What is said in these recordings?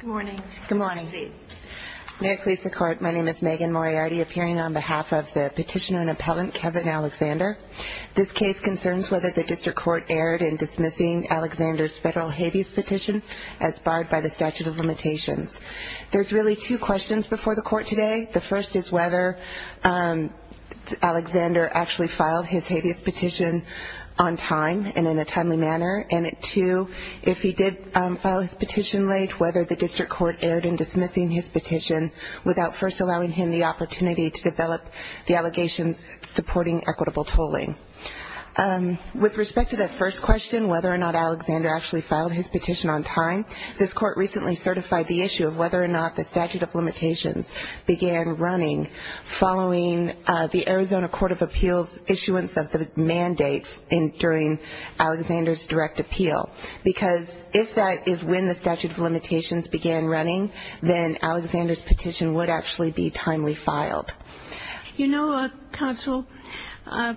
Good morning. Good morning. May it please the Court, my name is Megan Moriarty appearing on behalf of the petitioner and appellant Kevin Alexander. This case concerns whether the District Court erred in dismissing Alexander's federal habeas petition as barred by the statute of limitations. There's really two questions before the Court today. The first is whether Alexander actually filed his habeas petition on time and in a timely manner. And two, if he did file his petition late, whether the District Court erred in dismissing his petition without first allowing him the opportunity to develop the allegations supporting equitable tolling. With respect to that first question, whether or not Alexander actually filed his petition on time, this Court recently certified the issue of whether or not the statute of limitations began running following the Arizona Because if that is when the statute of limitations began running, then Alexander's petition would actually be timely filed. You know, Counsel, the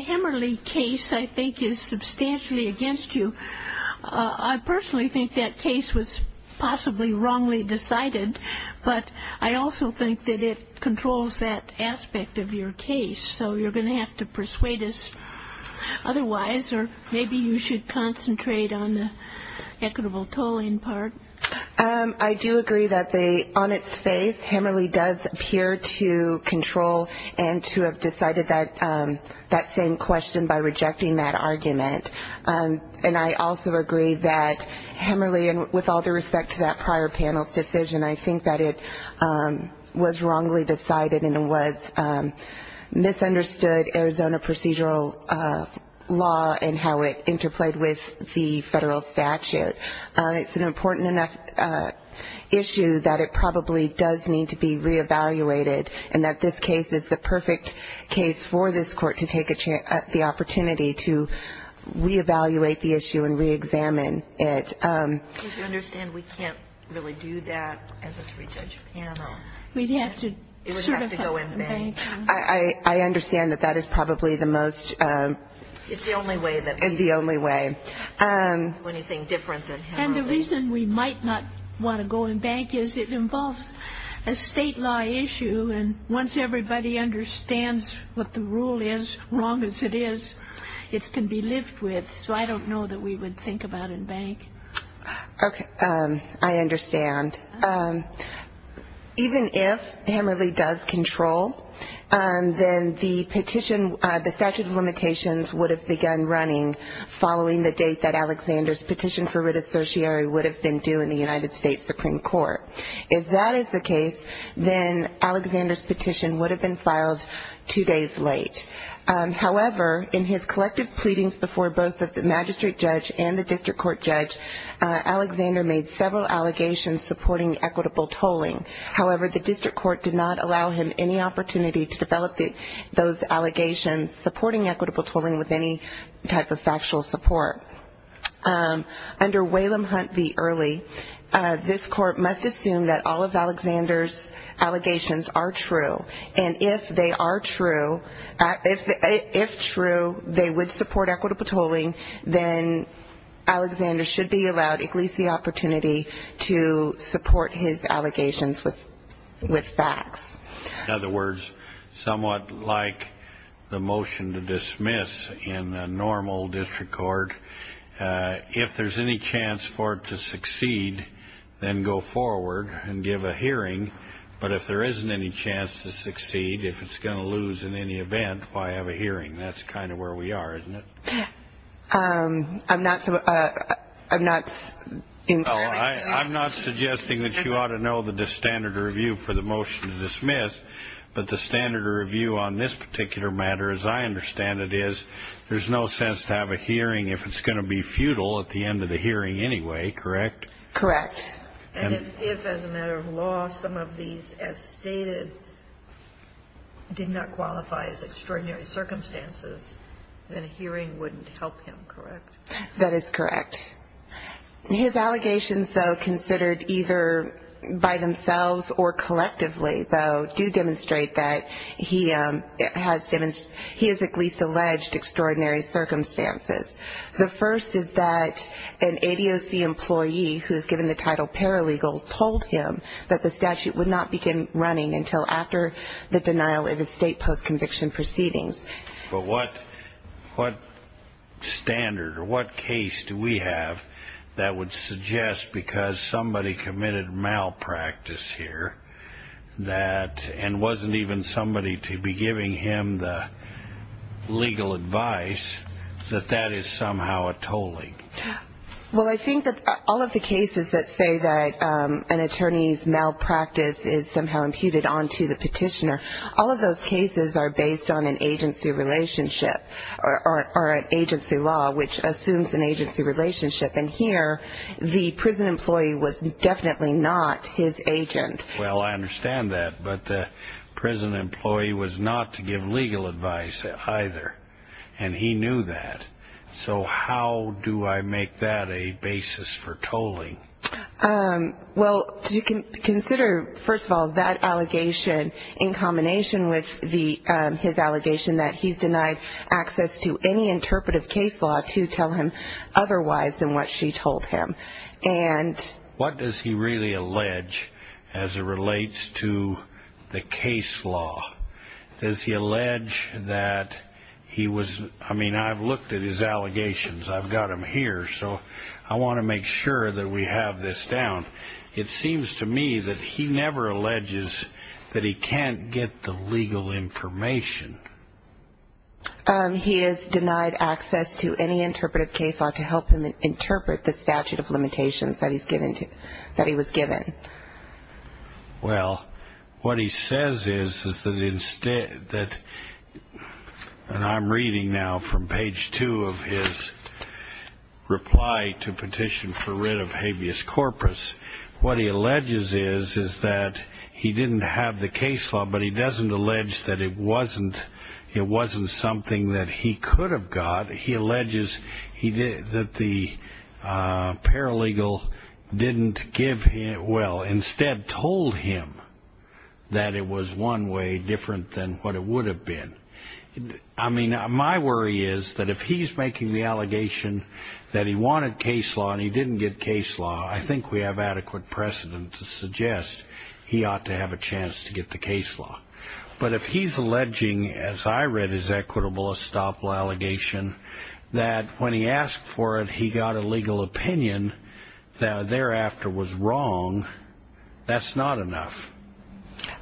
Hammerley case I think is substantially against you. I personally think that case was possibly wrongly decided, but I also think that it controls that aspect of your case. So you're going to have to persuade us otherwise, or maybe you should concentrate on the equitable tolling part. I do agree that on its face, Hammerley does appear to control and to have decided that same question by rejecting that argument. And I also agree that Hammerley, with all due respect to that prior panel's decision, I think that it was wrongly decided and it was misunderstood Arizona procedural law and how it interplayed with the federal statute. It's an important enough issue that it probably does need to be reevaluated, and that this case is the perfect case for this Court to take the opportunity to reevaluate the issue and reexamine it. Do you understand we can't really do that as a three-judge panel? It would have to go in bank. I understand that that is probably the most... It's the only way. And the reason we might not want to go in bank is it involves a state law issue, and once everybody understands what the rule is, wrong as it is, it can be lived with. So I don't know that we would think about it in bank. Okay. I understand. Even if Hammerley does control, then the statute of limitations would have begun running following the date that Alexander's petition for writ associary would have been due in the United States Supreme Court. If that is the case, then Alexander's petition would have been filed two days late. However, in his collective pleadings before both the magistrate judge and the district court judge, Alexander made several allegations supporting equitable tolling. However, the district court did not allow him any opportunity to develop those allegations supporting equitable tolling with any type of factual support. Under Whalum Hunt v. Early, this Court must assume that all of Alexander's allegations are true, and if they are true, they would support equitable tolling, then Alexander should be allowed at least the opportunity to support his allegations with facts. In other words, somewhat like the motion to dismiss in a normal district court, if there's any chance for it to succeed, then go forward and give a hearing. But if there isn't any chance to succeed, if it's going to lose in any event, why have a hearing? That's kind of where we are, isn't it? I'm not entirely sure. I'm not suggesting that you ought to know the standard review for the motion to dismiss, but the standard review on this particular matter, as I understand it, is there's no sense to have a hearing if it's going to be futile at the end of the hearing anyway, correct? Correct. And if, as a matter of law, some of these, as stated, did not qualify as extraordinary circumstances, then a hearing wouldn't help him, correct? That is correct. His allegations, though, considered either by themselves or collectively, though, do demonstrate that he has at least alleged extraordinary circumstances. The first is that an ADOC employee who is given the title paralegal told him that the statute would not begin running until after the denial of his state post-conviction proceedings. But what standard or what case do we have that would suggest, because somebody committed malpractice here, that, and wasn't even somebody to be given legal advice, that that is somehow a tolling? Well, I think that all of the cases that say that an attorney's malpractice is somehow imputed onto the petitioner, all of those cases are based on an agency relationship or an agency law, which assumes an agency relationship. And here, the prison employee was definitely not his agent. Well, I understand that, but the prison employee was not to give legal advice either, and he knew that. So how do I make that a basis for tolling? Well, consider, first of all, that allegation in combination with his allegation that he's denied access to any interpretive case law to tell him otherwise than what she told him. What does he really allege as it relates to the case law? Does he allege that he was, I mean, I've looked at his allegations. I've got them here, so I want to make sure that we have this down. It seems to me that he never alleges that he can't get the legal information. He is denied access to any interpretive case law to help him interpret the statute of limitations that he was given. Well, what he says is that, and I'm reading now from page two of his reply to petition for writ of habeas corpus, what he alleges is that he didn't have the case law, but he doesn't allege that it wasn't something that he could have got. He alleges that the paralegal didn't give him, well, instead told him that it was one way different than what it would have been. I mean, my worry is that if he's making the allegation that he wanted case law and he didn't get case law, I think we have adequate precedent to give him a chance to get the case law. But if he's alleging, as I read his equitable estoppel allegation, that when he asked for it, he got a legal opinion that thereafter was wrong, that's not enough.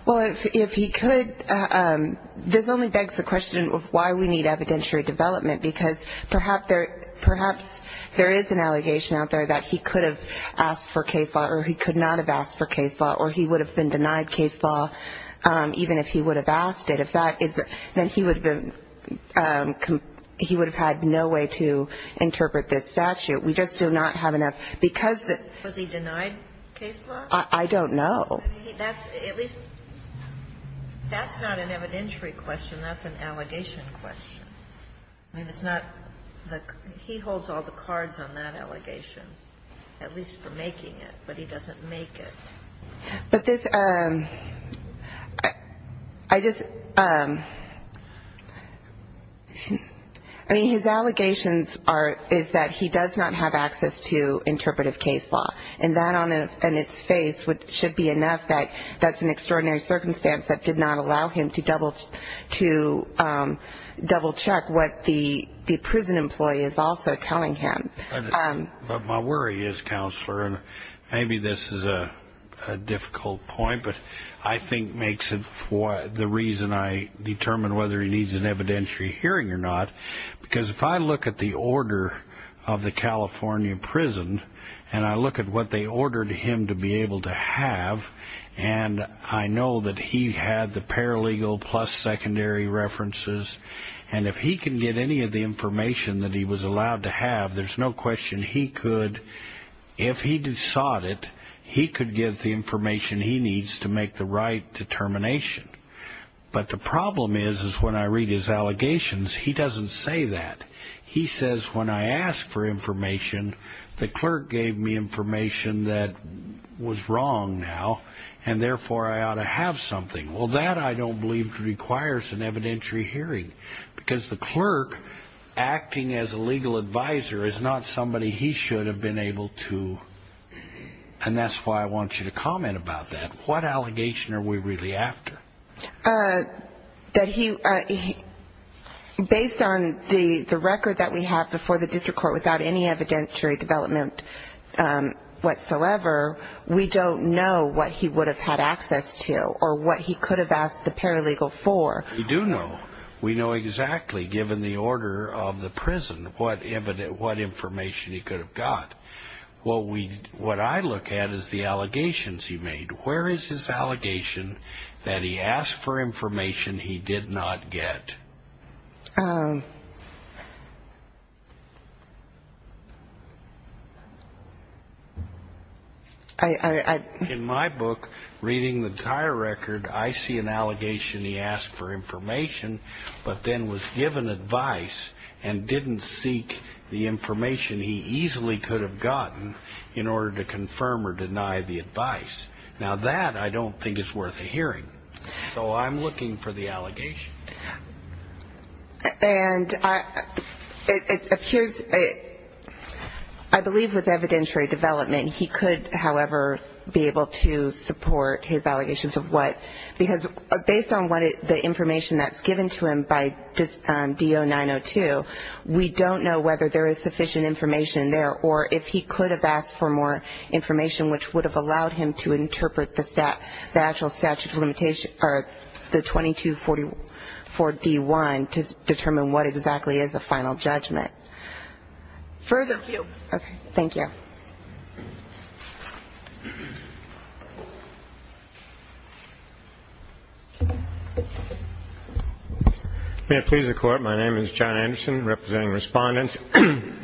Well, if he could, this only begs the question of why we need evidentiary development, because perhaps there is an allegation out there that he could have asked for case law, or he could not have asked for case law, or he would have been denied case law even if he would have asked it. If that is the case, then he would have been, he would have had no way to interpret this statute. We just do not have enough. Because he denied case law? I don't know. I mean, that's at least, that's not an evidentiary question, that's an allegation question. I mean, it's not the, he holds all the cards on that allegation, at least for making it, but he doesn't make it. But this, I just, I mean, his allegations are, is that he does not have access to interpretive case law. And that on its face should be enough that that's an extraordinary circumstance that did not allow him to double check what the prison employee is also telling him. But my worry is, Counselor, and maybe this is a difficult point, but I think makes it the reason I determine whether he needs an evidentiary hearing or not, because if I look at the order of the California prison, and I look at what they ordered him to be able to have, and I know that he had the paralegal plus secondary references, and if he can get any of the information that he was allowed to have, there's no question he could, if he sought it, he could get the information he needs to make the right determination. But the problem is, is when I read his allegations, he doesn't say that. He says when I ask for information, the clerk gave me information that was wrong now, and therefore I ought to have something. Well, that I don't believe requires an evidentiary hearing, because the clerk acting as a legal advisor is not somebody he should have been able to, and that's why I want you to comment about that. What allegation are we really after? Based on the record that we have before the district court without any evidentiary development whatsoever, we don't know what he would have had access to or what he could have asked the paralegal for. We do know. We know exactly, given the order of the prison, what information he could have got. What I look at is the allegations he made. Where is his allegation that he asked for information he did not get? In my book, reading the entire record, I see an allegation he asked for information, but then was given advice and didn't seek the information he easily could have gotten in order to confirm or deny the advice. Now, that I don't think is worth a hearing, so I'm looking for the allegation. And I believe with evidentiary development, he could, however, be able to support his allegations of what? Because based on the information that's given to him by DO-902, we don't know whether there is sufficient information there, or if he could have asked for more information which would have allowed him to interpret the actual statute of limitations, or the 2244-D1, to determine what exactly is the final judgment. Thank you. May it please the Court. My name is John Anderson, representing respondents, State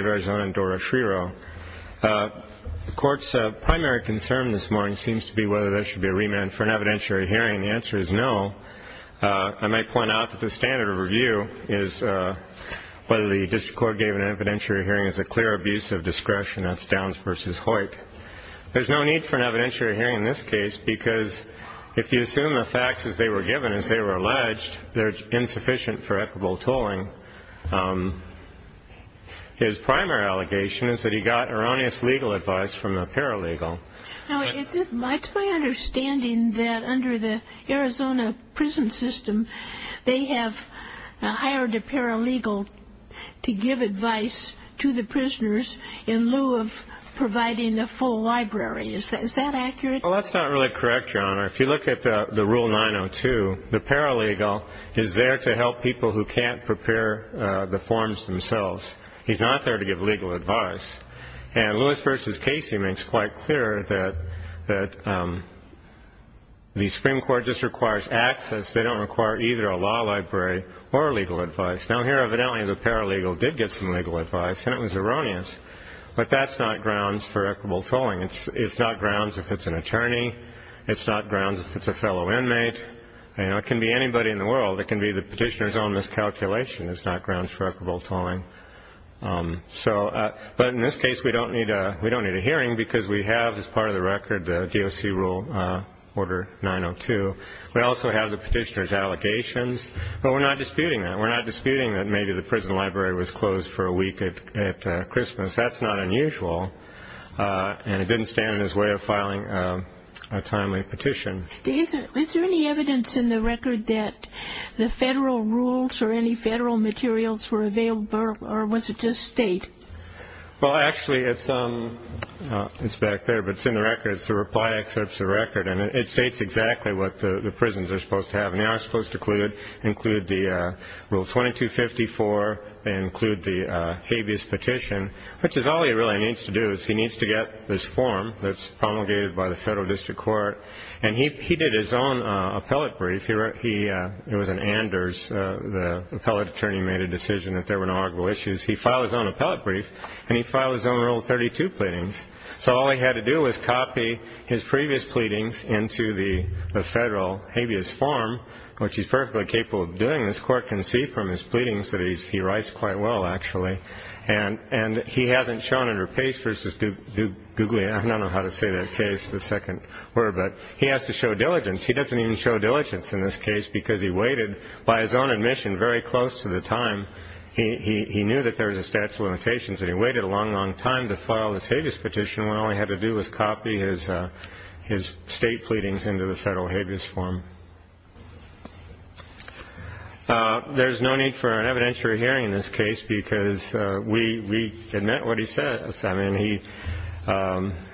of Arizona, and Dora Shriro. The Court's primary concern this morning seems to be whether there should be a remand for an evidentiary hearing. The answer is no. I might point out that the standard of review is whether the district court gave an evidentiary hearing as a clear abuse of discretion. That's Downs v. Hoyt. There's no need for an evidentiary hearing in this case, because if you assume the facts as they were given, as they were alleged, they're insufficient for equitable tolling. His primary allegation is that he got erroneous legal advice from the paralegal. Now, it's my understanding that under the Arizona prison system, they have hired a paralegal to give advice to the prisoners in lieu of providing a full library. Is that accurate? The paralegal is there to help people who can't prepare the forms themselves. He's not there to give legal advice. And Lewis v. Casey makes quite clear that the Supreme Court just requires access. They don't require either a law library or legal advice. Now, here, evidently, the paralegal did get some legal advice, and it was erroneous. But that's not grounds for equitable tolling. It's not grounds if it's an attorney. It's not grounds if it's a fellow inmate. It can be anybody in the world. It can be the petitioner's own miscalculation is not grounds for equitable tolling. But in this case, we don't need a hearing because we have, as part of the record, the DOC Rule, Order 902. We also have the petitioner's allegations, but we're not disputing that. We're not disputing that maybe the prison library was closed for a week at Christmas. That's not unusual, and it didn't stand in his way of filing a timely petition. Is there any evidence in the record that the federal rules or any federal materials were available, or was it just state? Well, actually, it's back there, but it's in the record. It's the reply excerpt of the record, and it states exactly what the prisons are supposed to have. And they are supposed to include the Rule 2254. They include the habeas petition, which is all he really needs to do is he needs to get this form that's promulgated by the federal district court. He did his own appellate brief. It was an Anders. The appellate attorney made a decision that there were no arguable issues. He filed his own appellate brief, and he filed his own Rule 32 pleadings. So all he had to do was copy his previous pleadings into the federal habeas form, which he's perfectly capable of doing. This court can see from his pleadings that he writes quite well, actually. And he hasn't shown under pace versus do googly. I don't know how to say that case the second word, but he has to show diligence. He doesn't even show diligence in this case because he waited by his own admission very close to the time. He knew that there was a statute of limitations, and he waited a long, long time to file this habeas petition. All he had to do was copy his his state pleadings into the federal habeas form. There's no need for an evidentiary hearing in this case because we admit what he says. I mean, he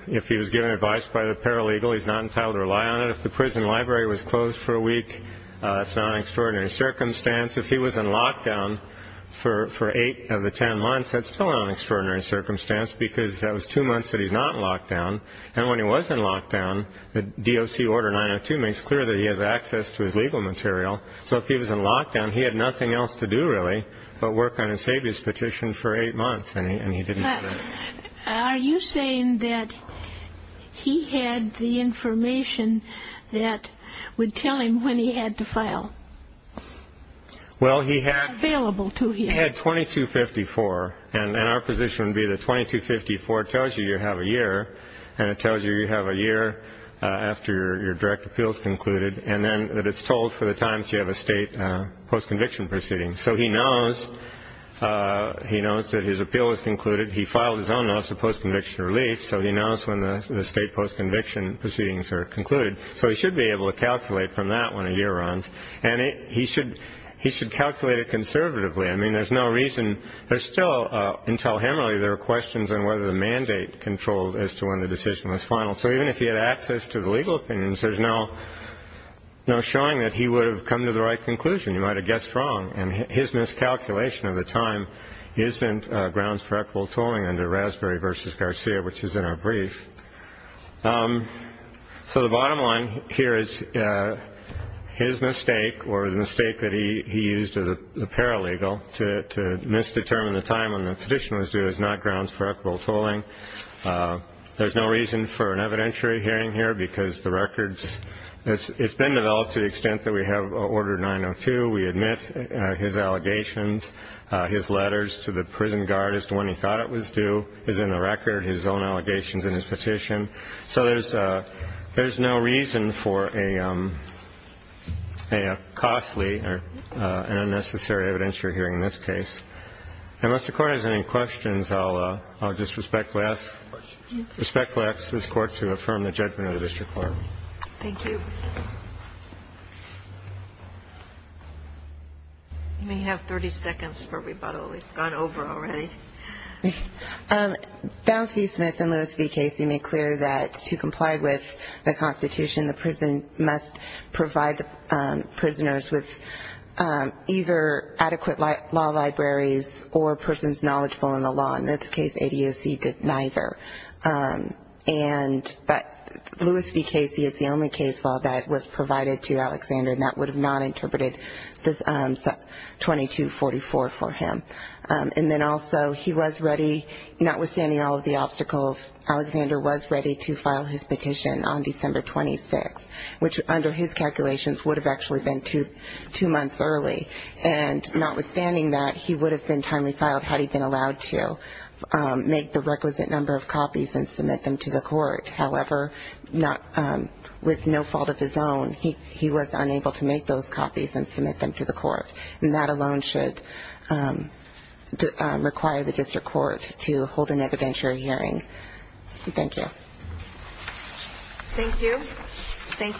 if he was given advice by the paralegal, he's not entitled to rely on it. If the prison library was closed for a week, it's not an extraordinary circumstance. If he was in lockdown for eight of the 10 months, that's still an extraordinary circumstance because that was two months that he's not locked down. And when he was in lockdown, the DOC order 902 makes clear that he has access to his legal material. So if he was in lockdown, he had nothing else to do, really, but work on his habeas petition for eight months. And he and he didn't. Are you saying that he had the information that would tell him when he had to file? Well, he had available to he had 2254 and our position would be that 2254 tells you you have a year. And it tells you you have a year after your direct appeals concluded and then that it's told for the times you have a state postconviction proceeding. So he knows he knows that his appeal is concluded. He filed his own notice of postconviction relief. So he knows when the state postconviction proceedings are concluded. So he should be able to calculate from that one a year runs. And he should he should calculate it conservatively. I mean, there's no reason there's still until him. Really, there are questions on whether the mandate controlled as to when the decision was final. So even if he had access to the legal opinions, there's no no showing that he would have come to the right conclusion. You might have guessed wrong. And his miscalculation of the time isn't grounds for equal tolling under Raspberry versus Garcia, which is in our brief. So the bottom line here is his mistake or the mistake that he he used to the paralegal. To misdetermine the time when the petition was due is not grounds for equal tolling. There's no reason for an evidentiary hearing here because the records it's been developed to the extent that we have ordered 902. We admit his allegations, his letters to the prison guard as to when he thought it was due is in the record, his own allegations in his petition. So there's there's no reason for a costly and unnecessary evidentiary hearing in this case. Unless the court has any questions, I'll just respectfully ask this court to affirm the judgment of the district court. Thank you. You may have 30 seconds for rebuttal. It's gone over already. Bounds v. Smith and Lewis v. Casey make clear that to comply with the Constitution, the prison must provide the prisoners with either adequate law enforcement training, libraries, or persons knowledgeable in the law. In this case, ADAC did neither. And but Lewis v. Casey is the only case law that was provided to Alexander, and that would have not interpreted this 2244 for him. And then also he was ready, notwithstanding all of the obstacles, Alexander was ready to file his petition on December 26, which under his calculations would have actually been two months early. And notwithstanding that, he would have been timely filed had he been allowed to make the requisite number of copies and submit them to the court. However, with no fault of his own, he was unable to make those copies and submit them to the court. And that alone should require the district court to hold an evidentiary hearing. Thank you.